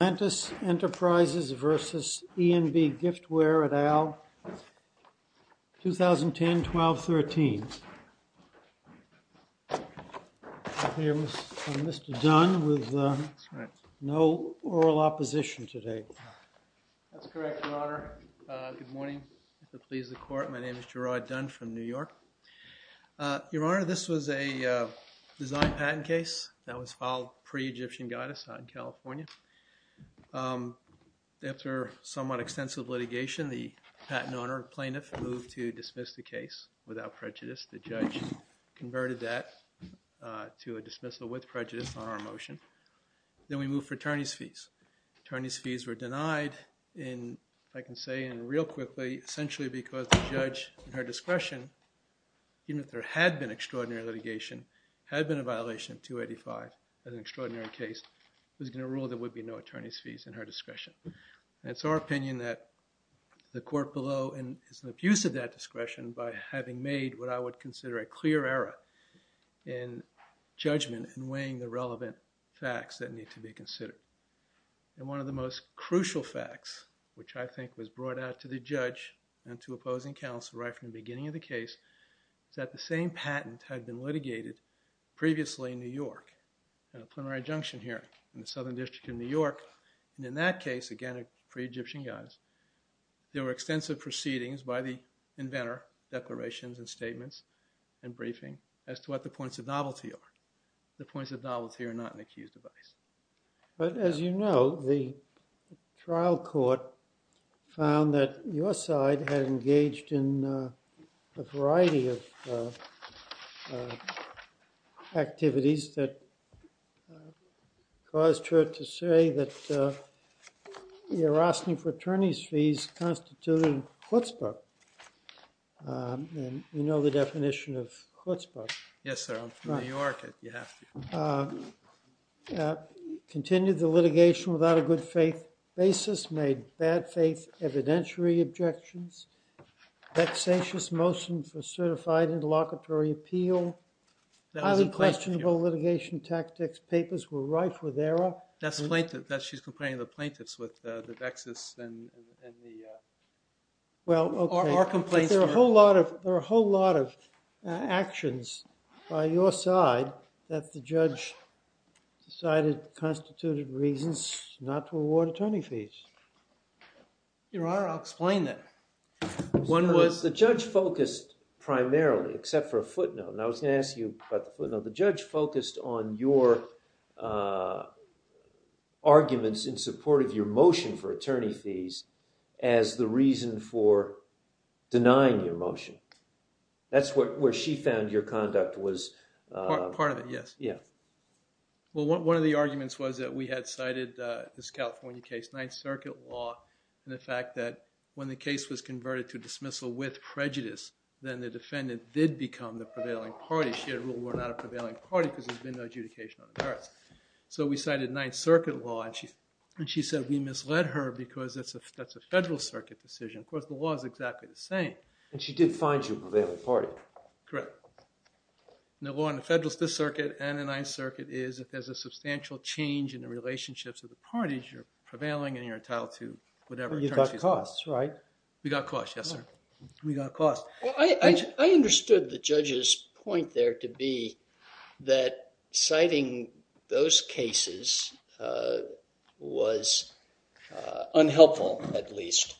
ATLANTIS ENTERPRISES v. E&B GIFTWARE et al. 2010-12-13 Here is Mr. Dunn with no oral opposition today. That's correct, your honor. Good morning. If it pleases the court, my name is Gerard Dunn from New York. Your honor, this was a design patent case that was filed pre-Egyptian guidance in California. After somewhat extensive litigation, the patent owner, plaintiff, moved to dismiss the case without prejudice. The judge converted that to a dismissal with prejudice on our motion. Then we moved for attorney's fees. Attorney's fees were denied in, if I can say real quickly, essentially because the judge, in her discretion, even if there had been extraordinary litigation, had been a violation of 285 as an extraordinary case, was going to rule there would be no attorney's fees in her discretion. And it's our opinion that the court below is an abuse of that discretion by having made what I would consider a clear error in judgment and weighing the relevant facts that need to be considered. And one of the most crucial facts, which I think was brought out to the judge and to opposing counsel right from the beginning of the case, is that the same patent had been litigated previously in New York at a plenary adjunction hearing in the Southern District of New York. And in that case, again, pre-Egyptian guidance, there were extensive proceedings by the inventor, declarations and statements and briefing as to what the points of novelty are. The points of novelty are not an accused device. But as you know, the trial court found that your side had engaged in a variety of activities that caused her to say that the Erasmi fraternity's fees constituted chutzpah. And you know the definition of chutzpah. Yes, sir. I'm from New York. Continued the litigation without a good faith basis. Made bad faith evidentiary objections. Vexatious motion for certified interlocutory appeal. Highly questionable litigation tactics. Papers were rife with error. That's plaintiff. She's comparing the plaintiffs with the vexus and the… Well, okay. But there are a whole lot of actions by your side that the judge decided constituted reasons not to award attorney fees. Your Honor, I'll explain that. One was the judge focused primarily, except for a footnote. And I was going to ask you about the footnote. The judge focused on your arguments in support of your motion for attorney fees as the reason for denying your motion. That's where she found your conduct was… Part of it, yes. Well, one of the arguments was that we had cited this California case, Ninth Circuit law, and the fact that when the case was converted to dismissal with prejudice, then the defendant did become the prevailing party. She had ruled we're not a prevailing party because there's been no adjudication on the merits. So we cited Ninth Circuit law, and she said we misled her because that's a Federal Circuit decision. Of course, the law is exactly the same. And she did find you a prevailing party. Correct. The law in the Federal Circuit and the Ninth Circuit is if there's a substantial change in the relationships of the parties, you're prevailing and you're entitled to whatever… You got costs, right? We got costs, yes, sir. We got costs. Well, I understood the judge's point there to be that citing those cases was unhelpful, at least,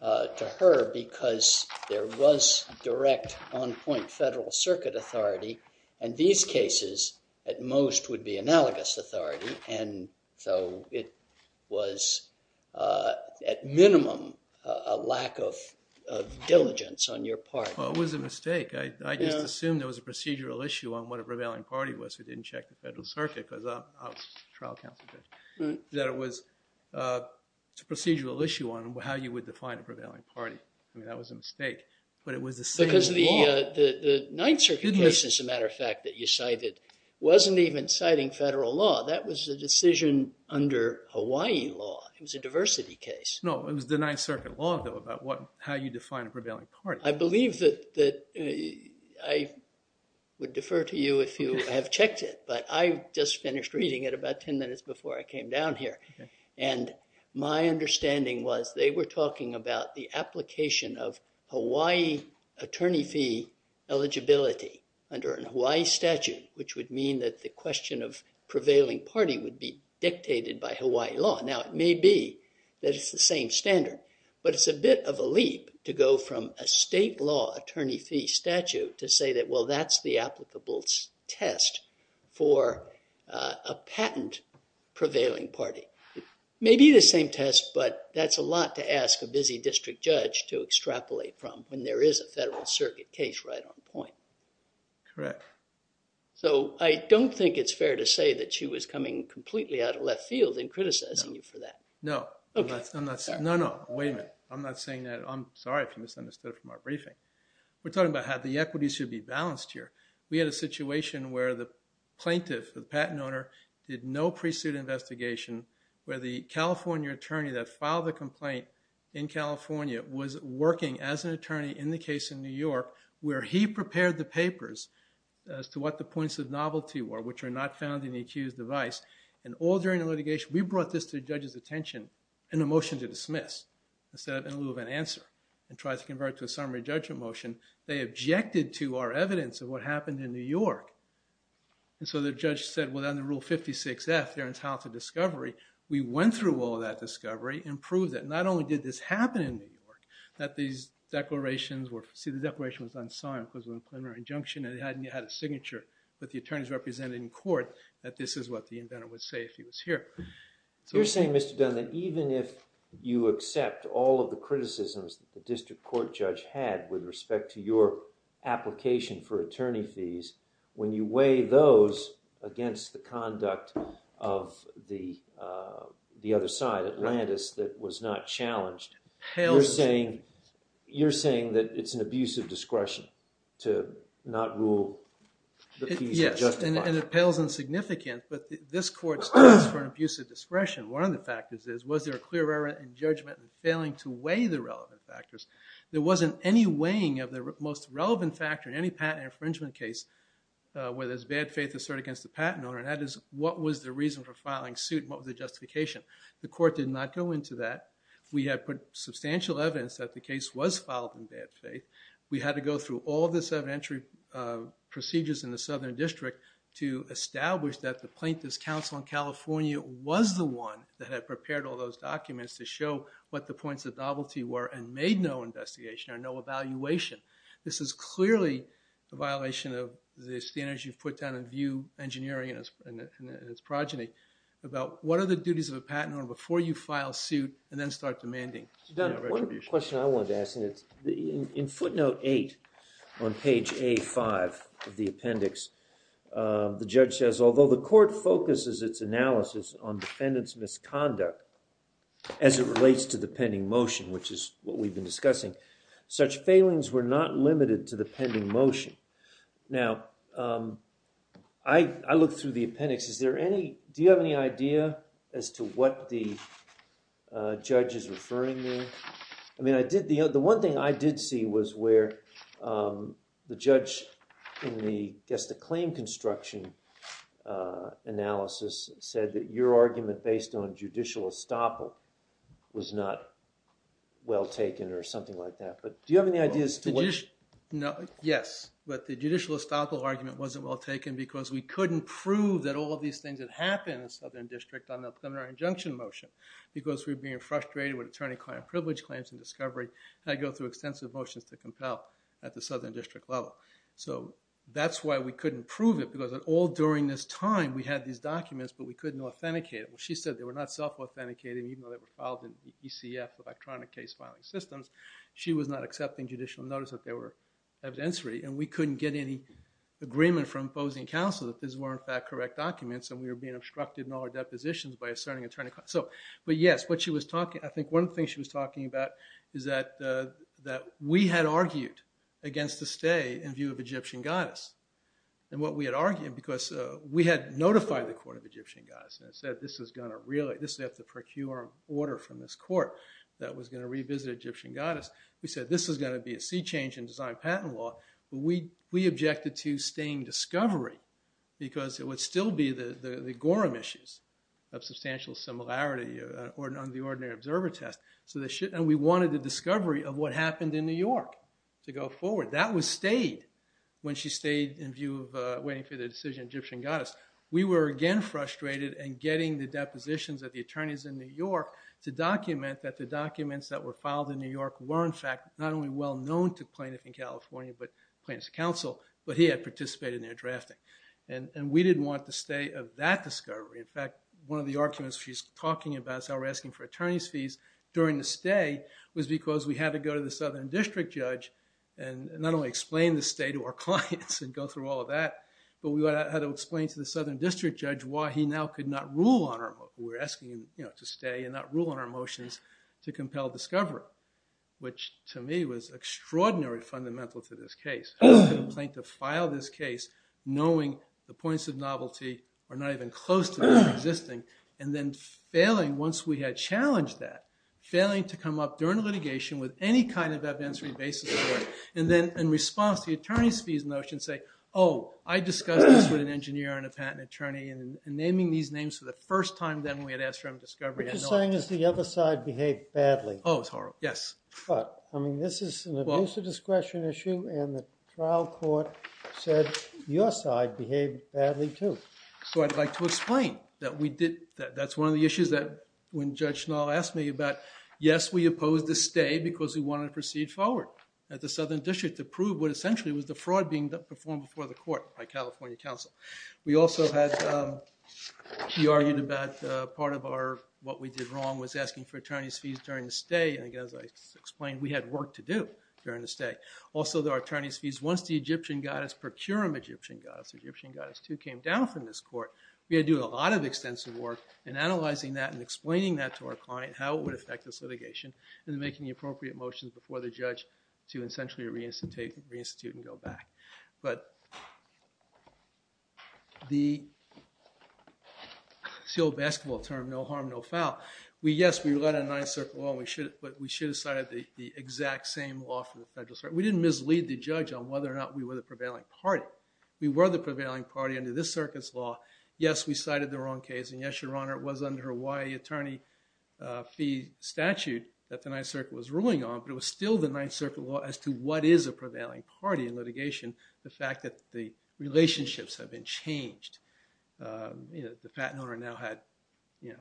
to her because there was direct on-point Federal Circuit authority, and these cases at most would be analogous authority. And so it was, at minimum, a lack of diligence on your part. Well, it was a mistake. I just assumed there was a procedural issue on what a prevailing party was. We didn't check the Federal Circuit because I was a trial counsel judge. That it was a procedural issue on how you would define a prevailing party. I mean, that was a mistake, but it was the same law. Because the Ninth Circuit case, as a matter of fact, that you cited wasn't even citing Federal law. It was a decision under Hawaii law. It was a diversity case. No, it was the Ninth Circuit law, though, about how you define a prevailing party. I believe that… I would defer to you if you have checked it, but I just finished reading it about 10 minutes before I came down here. And my understanding was they were talking about the application of Hawaii attorney fee eligibility under a Hawaii statute, which would mean that the question of prevailing party would be dictated by Hawaii law. Now, it may be that it's the same standard, but it's a bit of a leap to go from a state law attorney fee statute to say that, well, that's the applicable test for a patent prevailing party. Maybe the same test, but that's a lot to ask a busy district judge to extrapolate from when there is a Federal Circuit case right on point. Correct. So, I don't think it's fair to say that she was coming completely out of left field and criticizing you for that. No. No, no. Wait a minute. I'm not saying that. I'm sorry if you misunderstood from our briefing. We're talking about how the equity should be balanced here. We had a situation where the plaintiff, the patent owner, did no pre-suit investigation, where the California attorney that filed the complaint in California was working as an attorney in the case in New York, where he prepared the papers as to what the points of novelty were, which are not found in the accused's device. And all during the litigation, we brought this to the judge's attention in a motion to dismiss, instead of in lieu of an answer, and tried to convert it to a summary judgment motion. They objected to our evidence of what happened in New York. And so the judge said, well, under Rule 56-F, there's how to discovery. We went through all that discovery and proved that not only did this happen in New York, that these declarations were, see, the declaration was unsigned because of a preliminary injunction, and it hadn't had a signature, but the attorneys represented in court that this is what the inventor would say if he was here. You're saying, Mr. Dunn, that even if you accept all of the criticisms that the district court judge had with respect to your application for attorney fees, when you weigh those against the conduct of the other side, the case on Atlantis that was not challenged, you're saying that it's an abuse of discretion to not rule the fees justified. Yes, and it pales in significance, but this court stands for an abuse of discretion. One of the factors is, was there a clear error in judgment in failing to weigh the relevant factors? There wasn't any weighing of the most relevant factor in any patent infringement case where there's bad faith asserted against the patent owner, and that is, what was the reason for filing suit? What was the justification? We did not go into that. We had put substantial evidence that the case was filed in bad faith. We had to go through all the evidentiary procedures in the Southern District to establish that the plaintiff's counsel in California was the one that had prepared all those documents to show what the points of novelty were and made no investigation or no evaluation. This is clearly a violation of the standards you've put down in view engineering and its progeny about what are the duties of a patent owner to file suit and then start demanding retribution. One question I wanted to ask, and it's in footnote 8 on page A5 of the appendix, the judge says, although the court focuses its analysis on defendant's misconduct as it relates to the pending motion, which is what we've been discussing, such failings were not limited to the pending motion. Now, I looked through the appendix. Do you have any idea as to what the judge is referring to? The one thing I did see was where the judge, I guess the claim construction analysis, said that your argument based on judicial estoppel was not well taken or something like that. Do you have any ideas? Yes, but the judicial estoppel argument wasn't well taken because we couldn't prove that all these things had happened in Southern District on the preliminary injunction motion because we were being frustrated with attorney-client privilege claims and discovery, and I go through extensive motions to compel at the Southern District level. So, that's why we couldn't prove it because all during this time we had these documents, but we couldn't authenticate it. Well, she said they were not self-authenticated even though they were filed in the ECF, electronic case filing systems. She was not accepting judicial notice that they were evidentiary, and we couldn't get any agreement from opposing counsel that these were, in fact, correct documents, and we were being obstructed in all our depositions by asserting attorney-client. But yes, I think one thing she was talking about is that we had argued against the stay in view of Egyptian goddess, and what we had argued because we had notified the court of Egyptian goddess and said this is going to have to procure an order from this court that was going to revisit Egyptian goddess. We said this is going to be a sea change in design patent law and we objected to staying discovery because it would still be the Gorham issues of substantial similarity on the ordinary observer test. And we wanted the discovery of what happened in New York to go forward. That was stayed when she stayed in view of waiting for the decision of Egyptian goddess. We were again frustrated in getting the depositions of the attorneys in New York to document that the documents that were filed in New York were, in fact, not only well-known to plaintiff in California, to counsel, but he had participated in their drafting. And we didn't want the stay of that discovery. In fact, one of the arguments she's talking about is how we're asking for attorney's fees during the stay was because we had to go to the southern district judge and not only explain the stay to our clients and go through all of that, but we had to explain to the southern district judge why he now could not rule on our, we were asking him to stay and not rule on our motions to compel discovery, which to me was extraordinarily fundamental to this case. How could a plaintiff file this case knowing the points of novelty are not even close to them existing and then failing once we had challenged that, failing to come up during litigation with any kind of evidence-free basis for it, and then in response to the attorney's fees notion, say, oh, I discussed this with an engineer and a patent attorney, and naming these names for the first time then we had asked for discovery. What you're saying is the other side behaved badly. Oh, it was horrible, yes. But, I mean, this is an abuse of discretion issue and now court said your side behaved badly, too. So I'd like to explain that we did, that's one of the issues that when Judge Schnall asked me about, yes, we opposed the stay because we wanted to proceed forward at the southern district to prove what essentially was the fraud being performed before the court by California counsel. We also had, he argued about part of our, what we did wrong was asking for attorney's fees during the stay, and again, as I explained, we had work to do during the stay. When the Egyptian goddess, Procurum Egyptian goddess, Egyptian goddess II came down from this court, we had to do a lot of extensive work in analyzing that and explaining that to our client how it would affect the litigation and making the appropriate motions before the judge to essentially reinstitute and go back. But the, it's the old basketball term, no harm, no foul. We, yes, we led a nice circle but we should have cited the exact same law from the federal circuit. We didn't mislead the judge on whether or not we were the prevailing party. We were the prevailing party under this circuit's law. Yes, we cited the wrong case and yes, your honor, it was under Hawaii attorney fee statute that the ninth circuit was ruling on but it was still the ninth circuit law as to what is a prevailing party in litigation. The fact that the relationships have been changed. The patent owner now had, there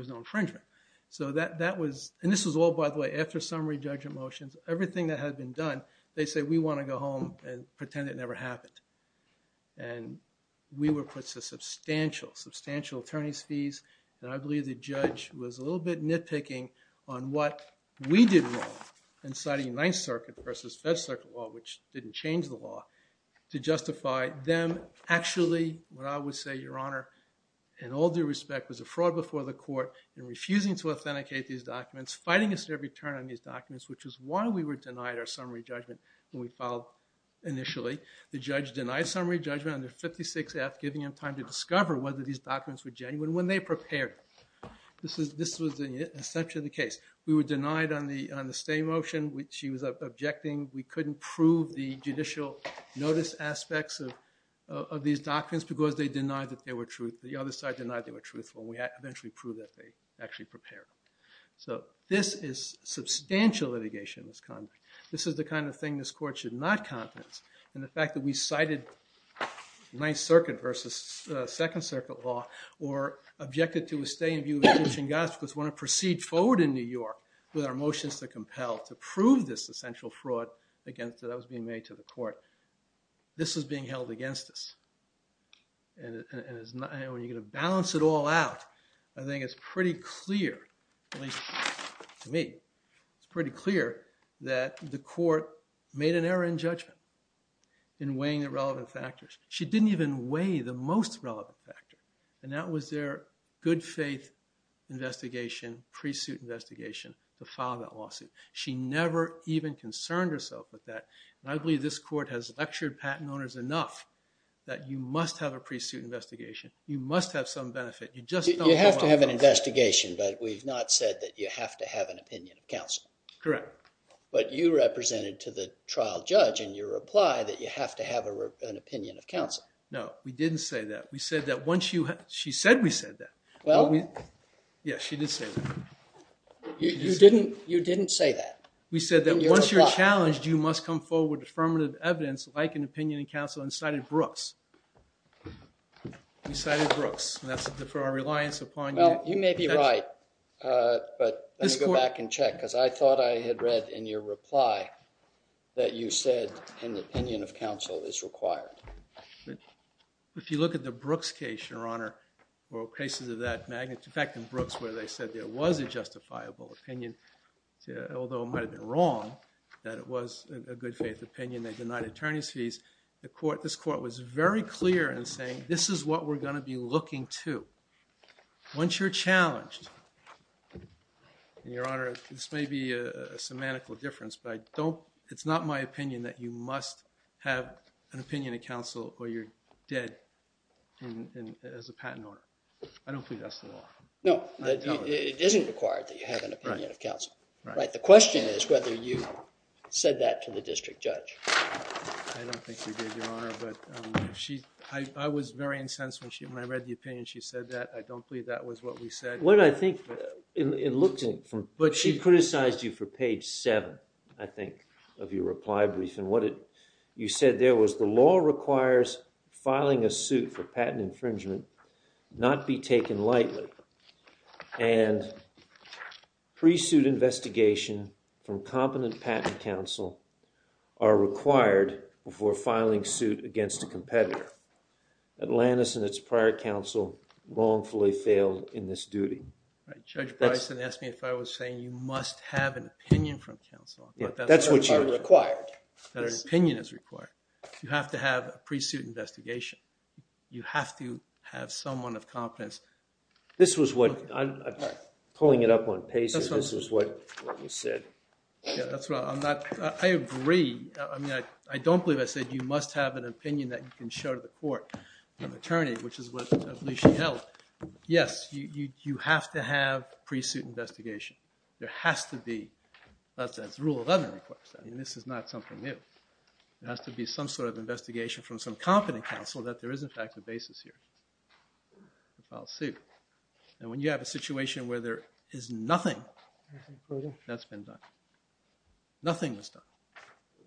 was no infringement. So that was, and this was all by the way that had been done. They say we want to go home and pretend it never happened. And we were put substantial, substantial attorney's fees and I believe the judge was a little bit nitpicking on what we did wrong in citing ninth circuit versus fed circuit law which didn't change the law to justify them actually and all due respect was a fraud before the court and refusing to authenticate these documents before summary judgment when we filed initially. The judge denied summary judgment under 56F giving him time to discover whether these documents were genuine when they prepared. This was essentially the case. We were denied on the stay motion which he was objecting. We couldn't prove the judicial notice aspects of these documents because they denied that they were true. The other side denied they were truthful and we had to eventually prove that they actually prepared. This is the kind of thing this court should not confidence in the fact that we cited ninth circuit versus second circuit law or objected to a stay in view of the teaching of God because we want to proceed forward in New York with our motions to compel to prove this essential fraud that was being made to the court. This is being held against us and when you're going to balance it all out I think it's pretty clear at least to me it's pretty clear that this court made an error in judgment in weighing the relevant factors. She didn't even weigh the most relevant factor and that was their good faith investigation pre-suit investigation to file that lawsuit. She never even concerned herself with that and I believe this court has lectured patent owners enough that you must have a pre-suit investigation. You must have some benefit. You have to have an investigation but we've not said that you have to have an opinion of counsel. You have commented to the trial judge in your reply that you have to have an opinion of counsel. No, we didn't say that. She said we said that. Yes, she did say that. You didn't say that? We said that once you're challenged you must come forward with affirmative evidence like an opinion of counsel and cited Brooks. We cited Brooks and that's for our reliance upon you. You may be right that you said an opinion of counsel is required. If you look at the Brooks case, Your Honor, cases of that magnitude. In fact, in Brooks where they said there was a justifiable opinion although it might have been wrong that it was a good faith opinion they denied attorney's fees. This court was very clear in saying this is what we're going to be looking to once you're challenged. Your Honor, this may be a semantical difference but it's not my opinion that you must have an opinion of counsel or you're dead as a patent lawyer. I don't believe that's the law. No, it isn't required that you have an opinion of counsel. Right. The question is whether you said that to the district judge. I don't think we did, Your Honor but I was very incensed when I read the opinion she said that. I don't believe that was what we said. What I think, but she criticized you for page 7 I think of your reply brief and what you said there was the law requires filing a suit for patent infringement not be taken lightly and pre-suit investigation from competent patent counsel are required before filing suit against a competitor. Atlantis and its prior counsel wrongfully failed in this duty. Judge Bryson asked me if I was saying you must have an opinion from counsel. That's what you are required. That an opinion is required. You have to have a pre-suit investigation. You have to have someone of competence. This was what pulling it up on pace this is what you said. I agree. I mean, I don't believe I said you must have an opinion that you can show to the court an attorney which is what I believe she held. Yes, you have to have pre-suit investigation. There has to be that's the rule of law and this is not something new. It has to be some sort of investigation from some competent counsel that there is in fact a basis here to file a suit. And when you have a situation where there is nothing that's been done. Nothing was done.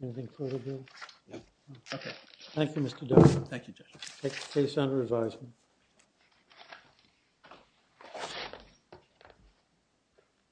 Anything further, Judge? Thank you, Mr. Dunn. Thank you, Judge. Take the case under advisement. Thank you.